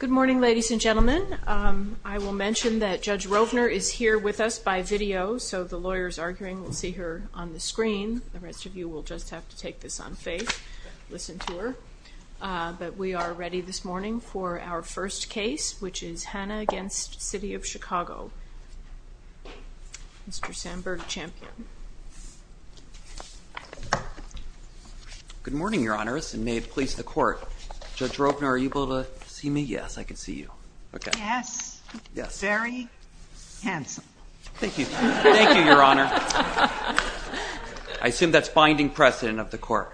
Good morning ladies and gentlemen. I will mention that Judge Rovner is here with us by video, so the lawyers arguing will see her on the screen. The rest of you will just have to take this on faith, listen to her. But we are ready this morning for our first case, which is Hanna v. City of Chicago. Mr. Samberg Champion. Good morning, Your Honors, and may it please the court. Judge Rovner, are you able to see me? Yes, I can see you. Okay. Yes. Yes. Very handsome. Thank you. Thank you, Your Honor. I assume that's binding precedent of the court.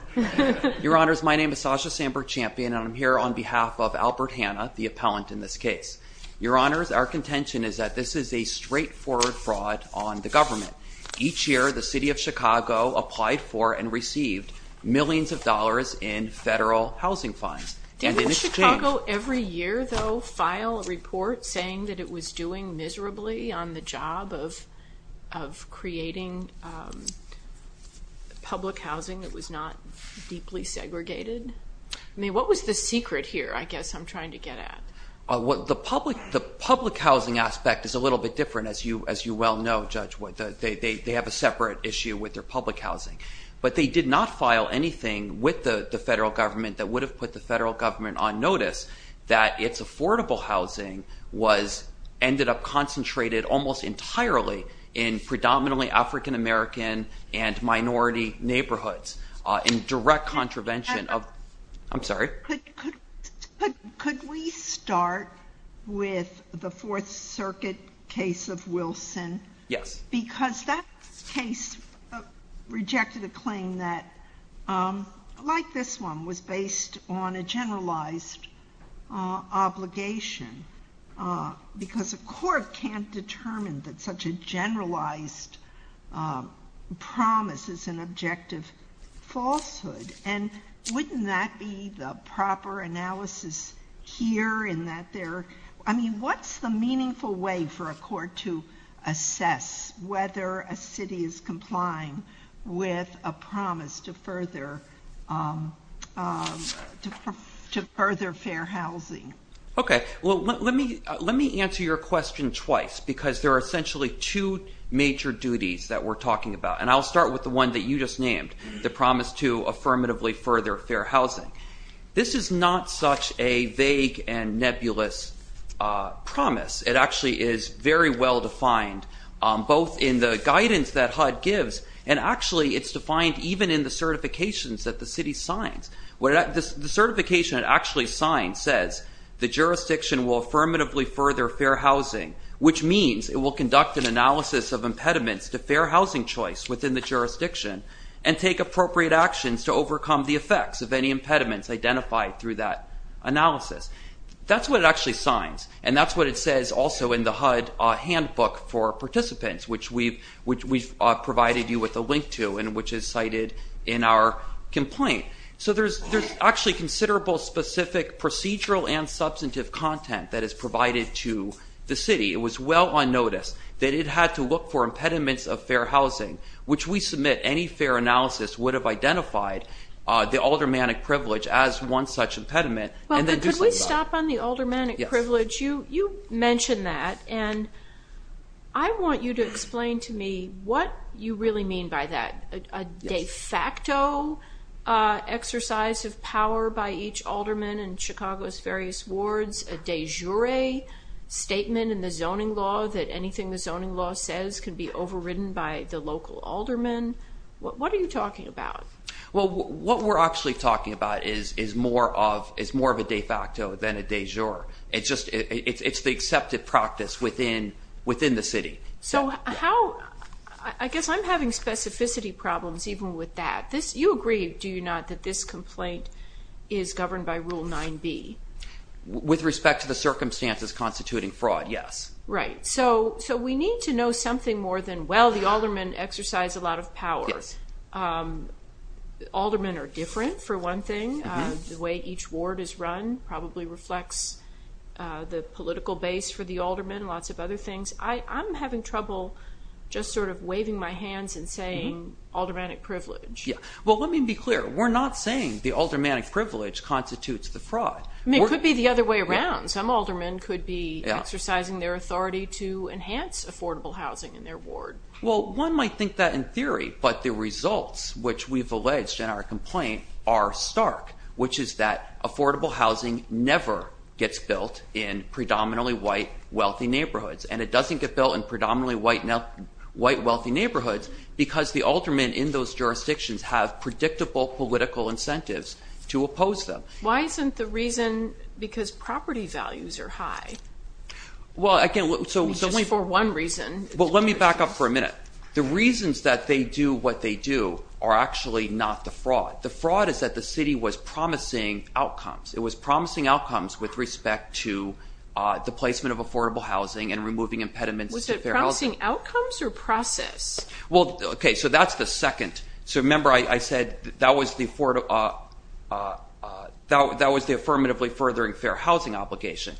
Your Honors, my name is Sasha Samberg Champion and I'm here on behalf of Albert Hanna, the appellant in this case. Your Honors, our contention is that this is a each year the City of Chicago applied for and received millions of dollars in federal housing fines. Did Chicago every year, though, file a report saying that it was doing miserably on the job of of creating public housing? It was not deeply segregated. I mean, what was the secret here? I guess I'm trying to get at what the public the public housing aspect is a little bit different, as you as you well know, Judge Wood. They have a separate issue with their public housing, but they did not file anything with the federal government that would have put the federal government on notice that its affordable housing was ended up concentrated almost entirely in predominantly African-American and minority neighborhoods in direct contravention of, I'm sorry. Could we start with the Fourth Circuit case of Wilson? Yes. Because that case rejected a claim that, like this one, was based on a generalized obligation because a court can't determine that such a generalized promise is an objective falsehood. And wouldn't that be the proper analysis here in that there, I mean, what's the meaningful way for a court to assess whether a city is complying with a promise to further to further fair housing? Okay, well let me let me answer your question twice because there are essentially two major duties that we're talking about. And I'll start with the one that you just named, the promise to affirmatively further fair housing. This is not such a vague and nebulous promise. It actually is very well defined both in the guidance that HUD gives and actually it's defined even in the certifications that the city signs. The certification it actually signs says the jurisdiction will affirmatively further fair housing, which means it will conduct an analysis of impediments to fair housing choice within the jurisdiction and take appropriate actions to overcome the effects of any impediments identified through that analysis. That's what it actually signs and that's what it says also in the HUD handbook for participants, which we've provided you with a link to and which is cited in our complaint. So there's actually considerable specific procedural and substantive content that is provided to the city. It was well on notice that it had to look for impediments of fair housing, which we submit any fair analysis would have identified the aldermanic privilege as one such impediment. Could we stop on the aldermanic privilege? You mentioned that and I want you to explain to me what you really mean by that. A de facto exercise of power by each alderman in Chicago's various wards? A de jure statement in the zoning law that anything the zoning law says can be overridden by the local alderman? What are you talking about? Well what we're actually talking about is more of a de facto than a de jure. It's the accepted practice within the city. So I guess I'm having specificity problems even with that. You agree, do you not, that this complaint is governed by Rule 9b? With respect to the circumstances constituting fraud, yes. Right, so we need to know something more than, well the aldermen exercise a lot of power. Aldermen are different for one thing. The way each ward is run probably reflects the political base for the alderman, lots of other things. I'm having trouble just sort of waving my hands and saying aldermanic privilege. Well let me be clear, we're not saying the aldermanic privilege constitutes the fraud. It could be the other way around. Some aldermen could be exercising their authority to enhance affordable housing in their ward. Well one might think that in theory, but the results which we've alleged in our complaint are stark, which is that affordable housing never gets built in predominantly white wealthy neighborhoods and it doesn't get built in predominantly white wealthy neighborhoods because the aldermen in those jurisdictions have predictable political incentives to oppose them. Why isn't the reason because property values are high? Well again, so it's only for one reason. Well let me back up for a minute. The reasons that they do what they do are actually not the fraud. The fraud is that the city was promising outcomes. It was promising outcomes with respect to the placement of affordable housing and removing impediments. Was it promising outcomes or process? Well okay, so that's the second. So remember I said that was the affirmatively furthering fair housing obligation.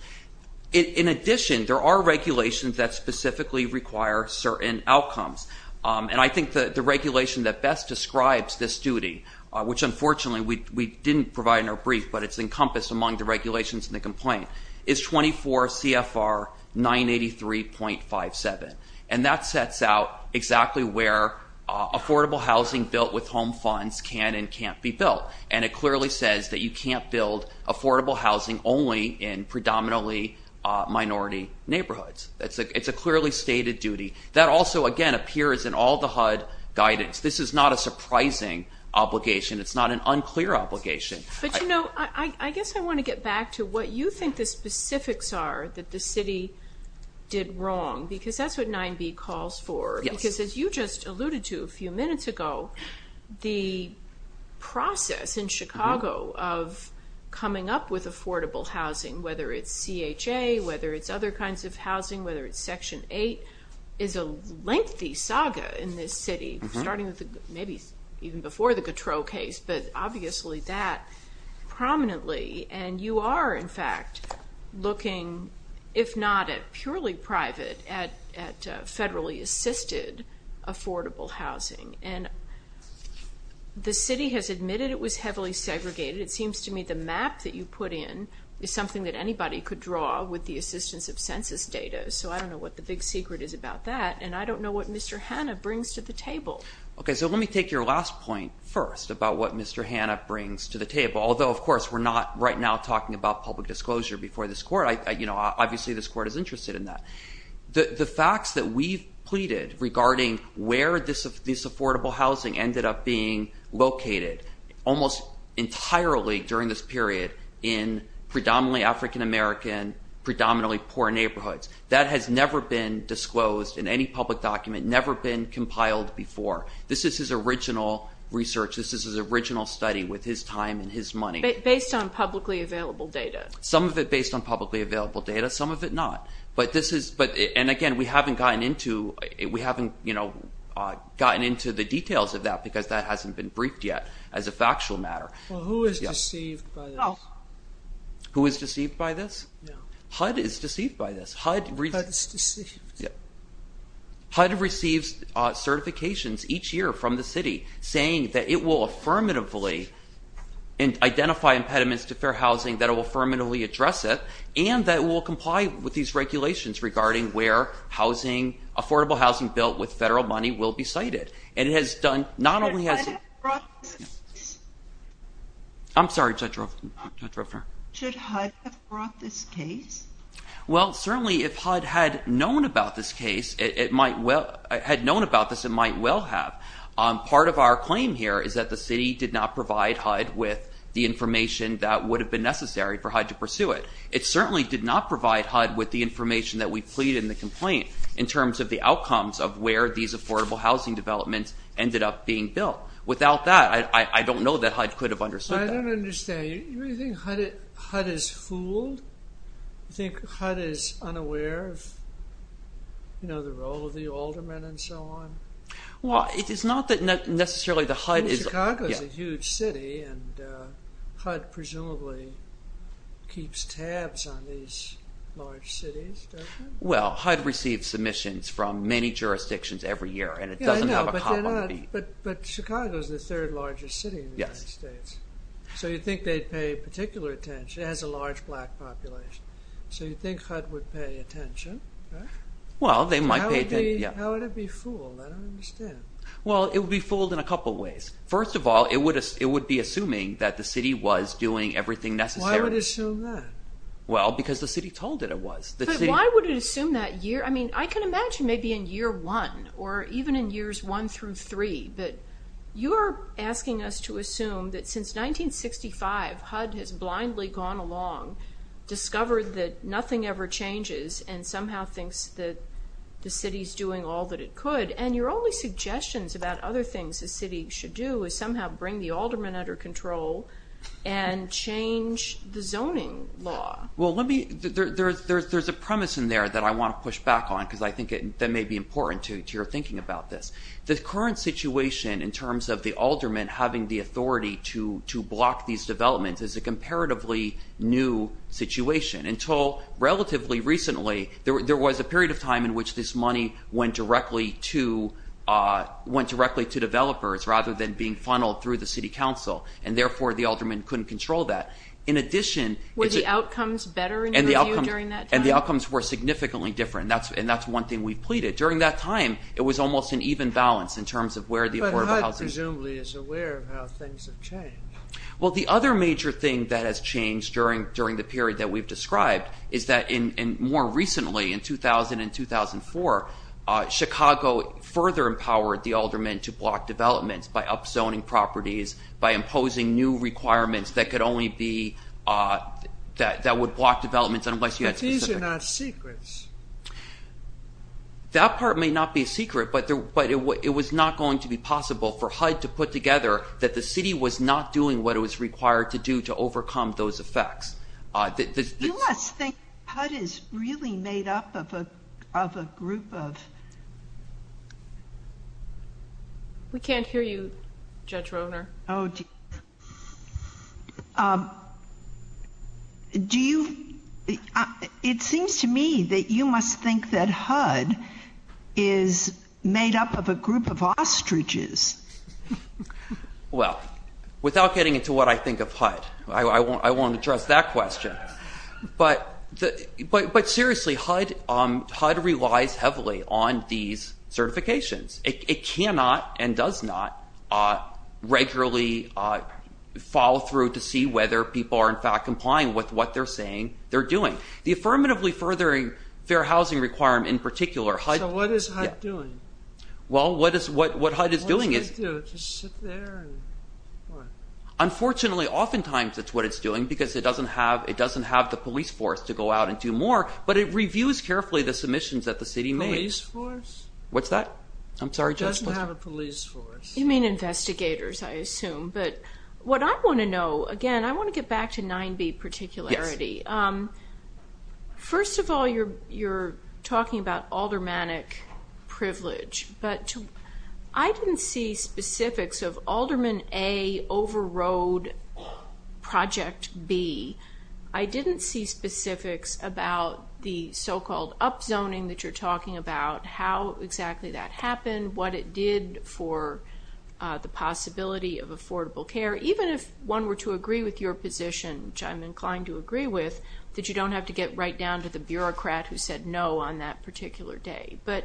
In addition, there are regulations that specifically require certain outcomes and I think that the regulation that best describes this duty, which unfortunately we didn't provide in our brief, but it's encompassed among the complaint, is 24 CFR 983.57 and that sets out exactly where affordable housing built with home funds can and can't be built and it clearly says that you can't build affordable housing only in predominantly minority neighborhoods. It's a clearly stated duty. That also again appears in all the HUD guidance. This is not a surprising obligation. It's not an unclear obligation. But you know I guess I want to get back to what you think the specifics are that the city did wrong because that's what 9b calls for. Because as you just alluded to a few minutes ago, the process in Chicago of coming up with affordable housing, whether it's CHA, whether it's other kinds of housing, whether it's section 8, is a lengthy saga in this city. Starting with maybe even before the Gautreaux case, but obviously that prominently and you are in fact looking, if not at purely private, at federally assisted affordable housing. And the city has admitted it was heavily segregated. It seems to me the map that you put in is something that anybody could draw with the assistance of census data. So I don't know what the big secret is about that and I don't know what Mr. Hanna brings to the table. Okay, so let me take your last point first about what Mr. Hanna brings to the table. Although of course we're not right now talking about public disclosure before this court. Obviously this court is interested in that. The facts that we've pleaded regarding where this affordable housing ended up being located almost entirely during this period in predominantly African-American, predominantly poor neighborhoods. That has never been disclosed in any public document, never been compiled before. This is his original research, this is his original study with his time and his money. Based on publicly available data. Some of it based on publicly available data, some of it not. But this is, but and again we haven't gotten into, we haven't, you know, gotten into the details of that because that hasn't been briefed yet as a factual matter. Who is deceived by this? HUD is deceived by this. HUD receives certifications each year from the city saying that it will affirmatively and identify impediments to fair housing that will affirmatively address it and that will comply with these regulations regarding where housing, affordable housing built with federal money will be Well certainly if HUD had known about this case, it might well, had known about this it might well have. Part of our claim here is that the city did not provide HUD with the information that would have been necessary for HUD to pursue it. It certainly did not provide HUD with the information that we plead in the complaint in terms of the outcomes of where these affordable housing developments ended up being built. Without that I don't know that HUD could have understood that. I don't understand. You really think HUD is fooled? You think HUD is unaware of, you know, the role of the aldermen and so on? Well it is not that necessarily the HUD is... Chicago is a huge city and HUD presumably keeps tabs on these large cities, doesn't it? Well HUD receives submissions from many jurisdictions every year and it doesn't have a problem. But Chicago is the third largest city in the United States, so you think they'd pay particular attention, it has a large black population, so you think HUD would pay attention? Well they might pay attention, yeah. How would it be fooled? I don't understand. Well it would be fooled in a couple ways. First of all it would be assuming that the city was doing everything necessary. Why would it assume that? Well because the city told it it was. But why would it assume that year? I mean I can imagine maybe in year one or even in years one through three that you're asking us to assume that since 1965 HUD has blindly gone along, discovered that nothing ever changes, and somehow thinks that the city's doing all that it could. And your only suggestions about other things the city should do is somehow bring the aldermen under control and change the zoning law. Well let me... there's a premise in there that I want to push back on because I think that may be important to your thinking about this. The current situation in terms of the aldermen having the authority to block these developments is a comparatively new situation. Until relatively recently there was a period of time in which this money went directly to developers rather than being funneled through the city council. And therefore the aldermen couldn't control that. In addition... Were the outcomes better in your view during that time? And the outcomes were significantly different and that's one thing we've pleaded. During that time it was almost an even balance in terms of where the affordable housing... But HUD presumably is aware of how things have changed. Well the other major thing that has changed during the period that we've described is that more recently in 2000 and 2004, Chicago further empowered the aldermen to block developments by upzoning properties, by imposing new requirements that could only be... that would block developments unless you had specific... But these are not secrets. That part may not be a secret but it was not going to be possible for HUD to put together that the city was not doing what it was required to do to overcome those effects. You must think HUD is really made up of a group of... We can't hear you Judge Rohnert. Oh... It seems to me that you must think that HUD is made up of a group of ostriches. Well, without getting into what I think of HUD, I won't address that question. But seriously HUD relies heavily on these certifications. It cannot and does not regularly follow through to see whether people are in fact complying with what they're saying they're doing. The Affirmatively Furthering Fair Housing Requirement in particular... So what is HUD doing? Well, what HUD is doing is... Just sit there and... Unfortunately, oftentimes it's what it's doing because it doesn't have the police force to go out and do more but it reviews carefully the submissions that the city made. Police force? What's that? I'm sorry, Judge. It doesn't have a police force. You mean investigators, I assume. But what I want to know, again, I want to get back to 9B particularity. Yes. First of all, you're talking about aldermanic privilege. But I didn't see specifics of Alderman A Overroad Project B. I didn't see specifics about the so-called upzoning that you're talking about, how exactly that happened, what it did for the possibility of affordable care. Even if one were to agree with your position, which I'm inclined to agree with, that you don't have to get right down to the bureaucrat who said no on that particular day. But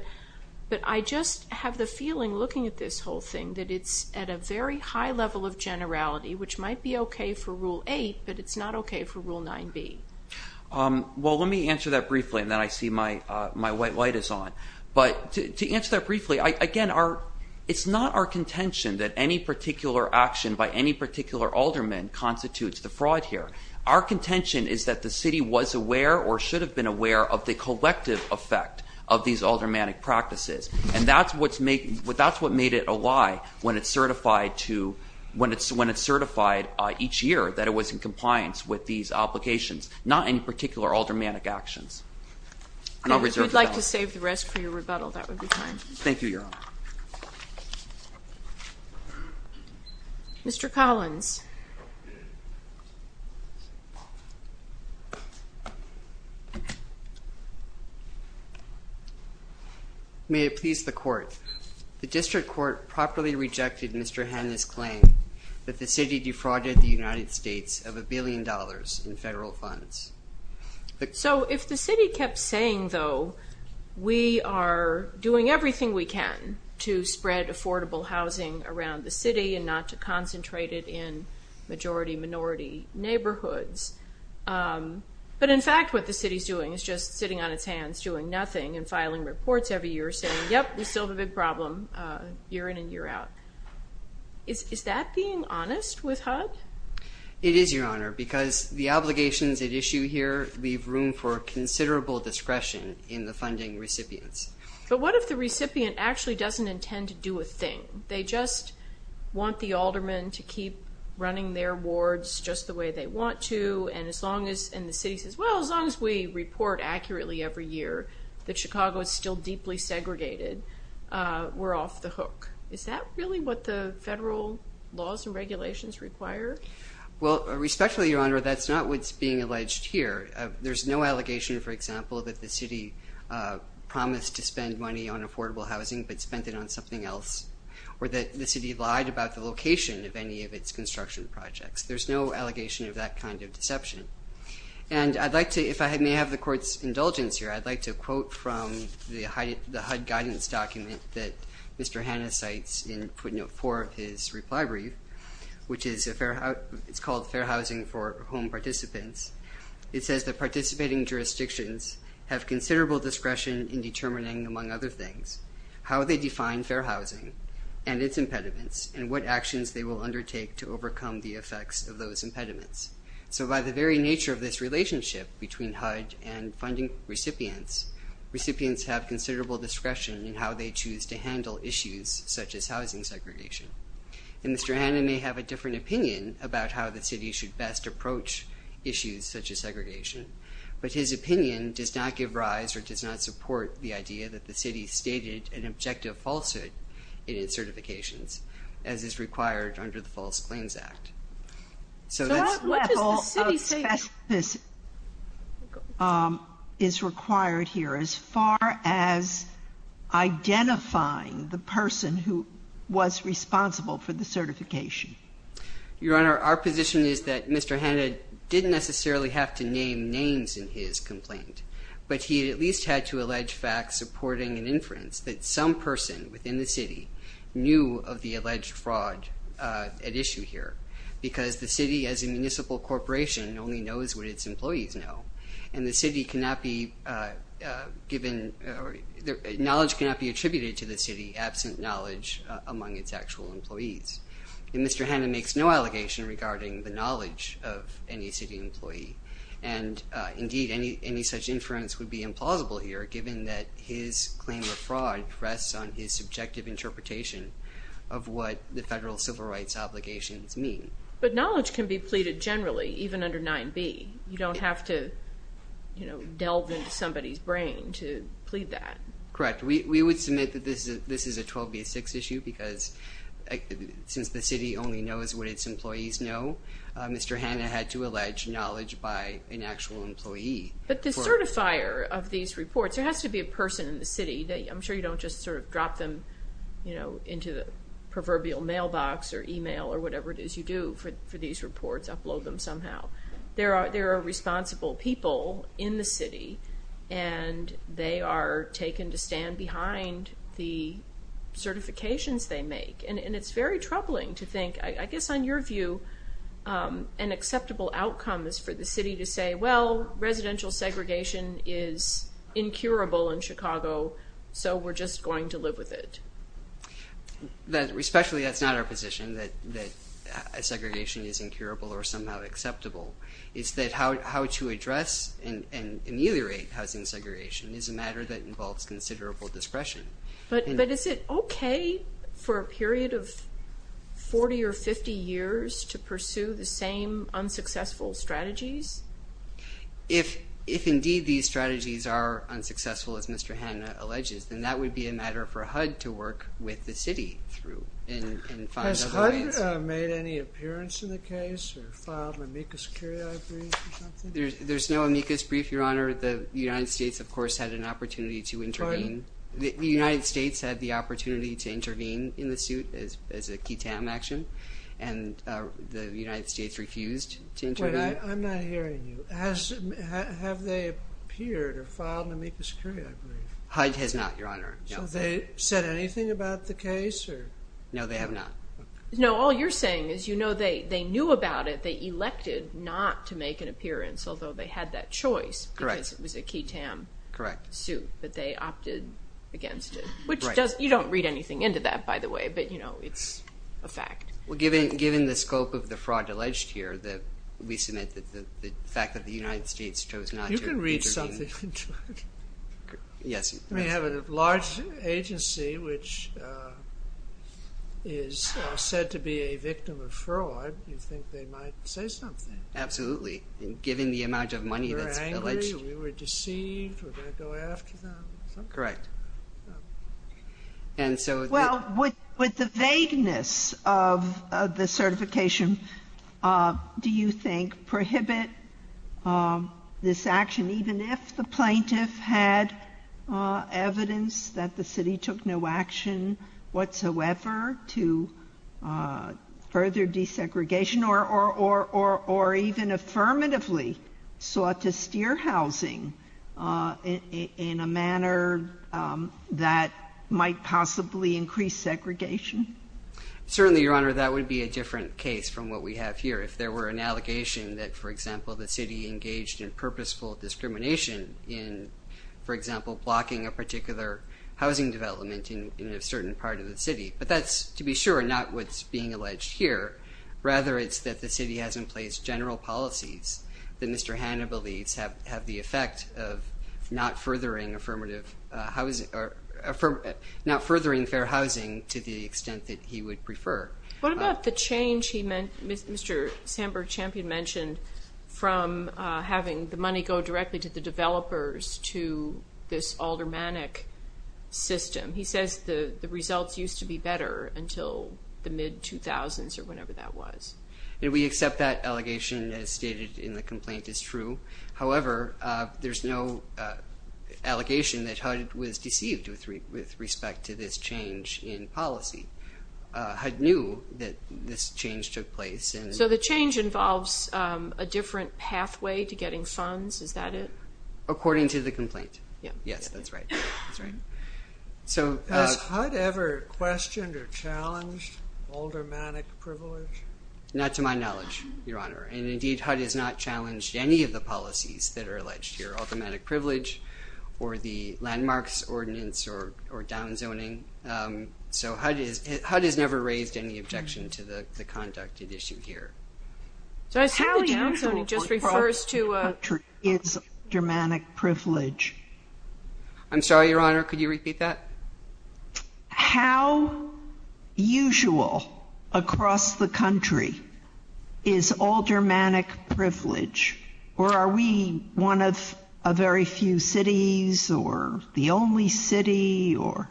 I just have the feeling, looking at this whole thing, that it's at a very high level of generality which might be okay for Rule 8, but it's not okay for Rule 9B. Well, let me answer that briefly, and then I see my white light is on. But to answer that briefly, again, it's not our contention that any particular action by any particular alderman constitutes the fraud here. Our contention is that the city was aware or should have been aware of the collective effect of these aldermanic practices. And that's what made it a lie when it's certified each year that it was in compliance with these applications, not any particular aldermanic actions. If you'd like to save the rest for your rebuttal, that would be fine. Thank you, Your Honor. Mr. Collins. May it please the Court. The District Court properly rejected Mr. Hanna's claim that the city defrauded the United States of a billion dollars in federal funds. So if the city kept saying, though, we are doing everything we can to spread affordable housing around the city and not to concentrate it in majority-minority neighborhoods, but in fact what the city's doing is just sitting on its hands doing nothing and filing reports every year saying, yep, we still have a big problem year in and year out. Is that being honest with HUD? It is, Your Honor, because the obligations at issue here leave room for considerable discretion in the funding recipients. But what if the recipient actually doesn't intend to do a thing? They just want the alderman to keep running their wards just the way they want to and the city says, well, as long as we report accurately every year that Chicago is still deeply segregated, we're off the hook. Is that really what the federal laws and regulations require? Well, respectfully, Your Honor, that's not what's being alleged here. There's no allegation, for example, that the city promised to spend money on affordable housing but spent it on something else or that the city lied about the location of any of its construction projects. There's no allegation of that kind of deception. And I'd like to, if I may have the Court's indulgence here, I'd like to quote from the HUD guidance document that Mr. Hannah cites in footnote 4 of his reply brief, which is called Fair Housing for Home Participants. It says that participating jurisdictions have considerable discretion in determining, among other things, how they define fair housing and its impediments and what actions they will undertake to overcome the effects of those impediments. So by the very nature of this relationship between HUD and funding recipients, recipients have considerable discretion in how they choose to handle issues such as housing segregation. And Mr. Hannah may have a different opinion about how the city should best approach issues such as segregation, but his opinion does not give rise or does not support the idea that the city stated an objective falsehood in its certifications as is required under the False Claims Act. So that's... What does the city say... ...is required here as far as identifying the person who was responsible for the certification? Your Honor, our position is that Mr. Hannah didn't necessarily have to name names in his complaint, but he at least had to allege facts supporting an inference that some person within the city knew of the alleged fraud at issue here. Because the city as a municipal corporation only knows what its employees know. And the city cannot be given... Knowledge cannot be attributed to the city absent knowledge among its actual employees. And Mr. Hannah makes no allegation regarding the knowledge of any city employee. And indeed, any such inference would be implausible here given that his claim of fraud rests on his subjective interpretation of what the federal civil rights obligations mean. But knowledge can be pleaded generally, even under 9b. You don't have to, you know, delve into somebody's brain to plead that. Correct. We would submit that this is a 12b6 issue because since the city only knows what its employees know, Mr. Hannah had to allege knowledge by an actual employee. But the certifier of these reports... There has to be a person in the city that... You know, into the proverbial mailbox or email or whatever it is you do for these reports, upload them somehow. There are responsible people in the city and they are taken to stand behind the certifications they make. And it's very troubling to think, I guess on your view, an acceptable outcome is for the city to say, well, residential segregation is incurable in Chicago, so we're just going to live with it. Especially that's not our position, that segregation is incurable or somehow acceptable. It's that how to address and ameliorate housing segregation is a matter that involves considerable discretion. But is it OK for a period of 40 or 50 years to pursue the same unsuccessful strategies? If indeed these strategies are unsuccessful, as Mr. Hannah alleges, then that would be a matter for HUD to work with the city through and find other ways. Has HUD made any appearance in the case or filed an amicus curiae brief or something? There's no amicus brief, Your Honour. The United States, of course, had an opportunity to intervene. The United States had the opportunity to intervene in the suit as a key TAM action and the United States refused to intervene. Wait, I'm not hearing you. Have they appeared or filed an amicus curiae brief? HUD has not, Your Honour. Have they said anything about the case? No, they have not. No, all you're saying is they knew about it, they elected not to make an appearance, although they had that choice because it was a key TAM suit, but they opted against it. You don't read anything into that, by the way, but it's a fact. Given the scope of the fraud alleged here, we submit that the fact that the United States chose not to intervene... You can read something into it. Yes. When you have a large agency which is said to be a victim of fraud, you think they might say something. Absolutely. Given the amount of money that's alleged... We were angry, we were deceived, we're going to go after them. Correct. And so... Well, with the vagueness of the certification, do you think prohibit this action even if the plaintiff had evidence that the city took no action whatsoever to further desegregation or even affirmatively sought to steer housing in a manner that might possibly increase segregation? Certainly, Your Honour, that would be a different case from what we have here. If there were an allegation that, for example, the city engaged in purposeful discrimination in, for example, blocking a particular housing development in a certain part of the city. But that's, to be sure, not what's being alleged here. Rather, it's that the city has in place general policies that Mr. Hanna believes have the effect of not furthering affirmative housing... Not furthering fair housing to the extent that he would prefer. What about the change Mr. Sandberg-Champion mentioned from having the money go directly to the developers to this aldermanic system? He says the results used to be better until the mid-2000s or whenever that was. We accept that allegation as stated in the complaint is true. However, there's no allegation that HUD was deceived with respect to this change in policy. HUD knew that this change took place. So the change involves a different pathway to getting funds, is that it? According to the complaint. Yes, that's right. Has HUD ever questioned or challenged aldermanic privilege? Not to my knowledge, Your Honor. Indeed, HUD has not challenged any of the policies that are alleged here, aldermanic privilege or the landmarks ordinance or downzoning. So HUD has never raised any objection to the conduct at issue here. So I assume the downzoning just refers to... How usual across the country is aldermanic privilege? I'm sorry, Your Honor, could you repeat that? How usual across the country is aldermanic privilege? Or are we one of a very few cities or the only city or...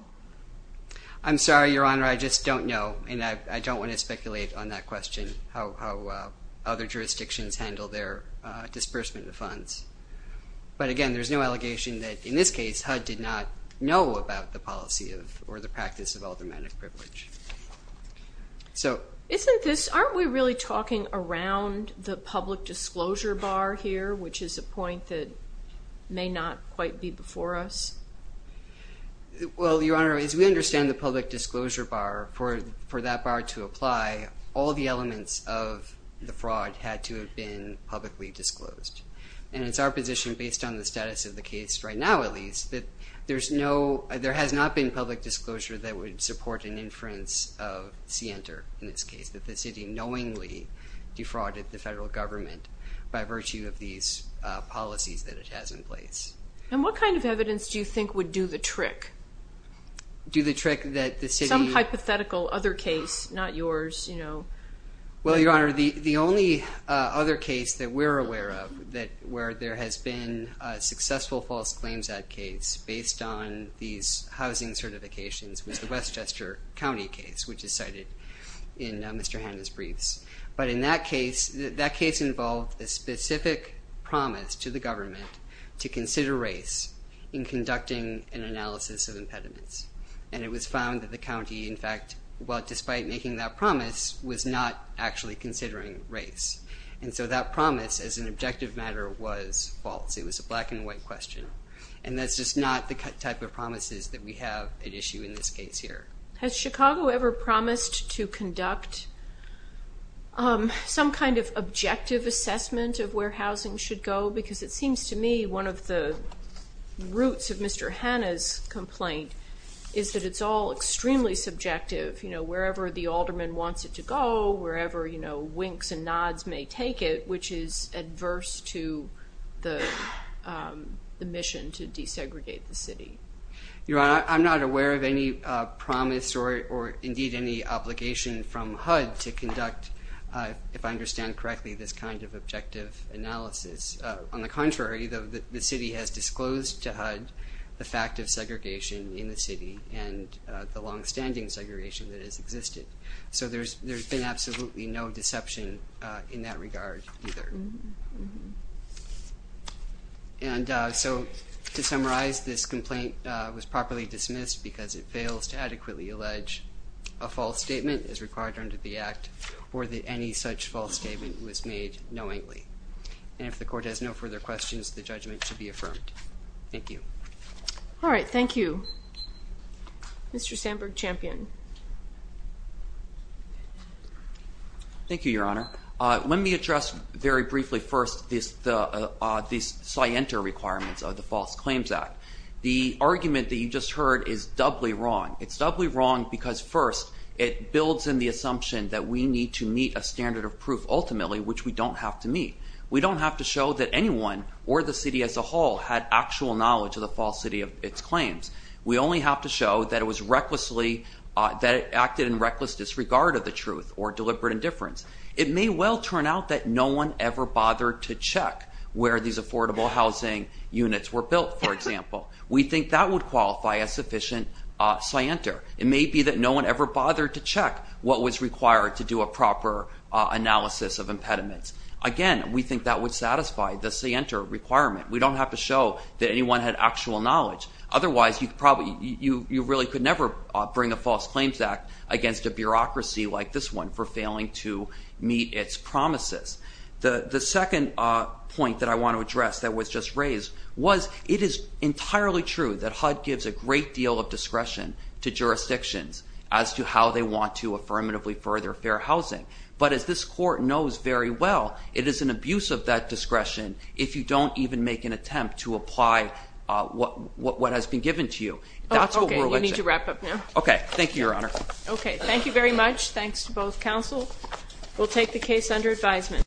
I'm sorry, Your Honor, I just don't know. And I don't want to speculate on that question, how other jurisdictions handle their disbursement of funds. But again, there's no allegation that in this case, HUD did not know about the policy or the practice of aldermanic privilege. So... Isn't this, aren't we really talking around the public disclosure bar here, which is a point that may not quite be before us? Well, Your Honor, as we understand the public disclosure bar, for that bar to apply, all the elements of the fraud had to have been publicly disclosed. And it's our position, based on the status of the case, right now at least, that there's no... There has not been public disclosure that would support an inference of CNTR in this case, that the city knowingly defrauded the federal government by virtue of these policies that it has in place. And what kind of evidence do you think would do the trick? Do the trick that the city... Some hypothetical other case, not yours, you know. Well, Your Honor, the only other case that we're aware of, where there has been a successful false claims ad case based on these housing certifications was the Westchester County case, which is cited in Mr. Hanna's briefs. But in that case, that case involved a specific promise to the government to consider race in conducting an analysis of impediments. And it was found that the county, in fact, well, despite making that promise, was not actually considering race. And so that promise, as an objective matter, was false. It was a black-and-white question. And that's just not the type of promises that we have at issue in this case here. Has Chicago ever promised to conduct some kind of objective assessment of where housing should go? Because it seems to me one of the roots of Mr. Hanna's complaint is that it's all extremely subjective. You know, wherever the alderman wants it to go, wherever, you know, winks and nods may take it, which is adverse to the mission to desegregate the city. Your Honor, I'm not aware of any promise or indeed any obligation from HUD to conduct, if I understand correctly, this kind of objective analysis. On the contrary, the city has disclosed to HUD the fact of segregation in the city and the longstanding segregation that has existed. So there's been absolutely no deception in that regard either. And so to summarize, this complaint was properly dismissed because it fails to adequately allege a false statement is required under the Act or that any such false statement was made knowingly. And if the Court has no further questions, the judgment to be affirmed. Thank you. All right, thank you. Mr. Sandberg-Champion. Thank you, Your Honor. Let me address very briefly first these scienter requirements of the False Claims Act. The argument that you just heard is doubly wrong. It's doubly wrong because first, it builds in the assumption that we need to meet a standard of proof ultimately, which we don't have to meet. We don't have to show that anyone or the city as a whole had actual knowledge of the false city of its claims. We only have to show that it was recklessly, that it acted in reckless disregard of the truth or deliberate indifference. It may well turn out that no one ever bothered to check where these affordable housing units were built, for example. We think that would qualify as sufficient scienter. It may be that no one ever bothered to check what was required to do a proper analysis of impediments. Again, we think that would satisfy the scienter requirement. We don't have to show that anyone had actual knowledge. Otherwise, you really could never bring a False Claims Act against a bureaucracy like this one for failing to meet its promises. The second point that I want to address that was just raised was, it is entirely true that HUD gives a great deal of discretion to jurisdictions as to how they want to affirmatively further fair housing. But as this court knows very well, it is an abuse of that discretion if you don't even make an attempt to apply what has been given to you. That's what we're looking at. Okay, you need to wrap up now. Okay, thank you, Your Honor. Okay, thank you very much. Thanks to both counsel. We'll take the case under advisement.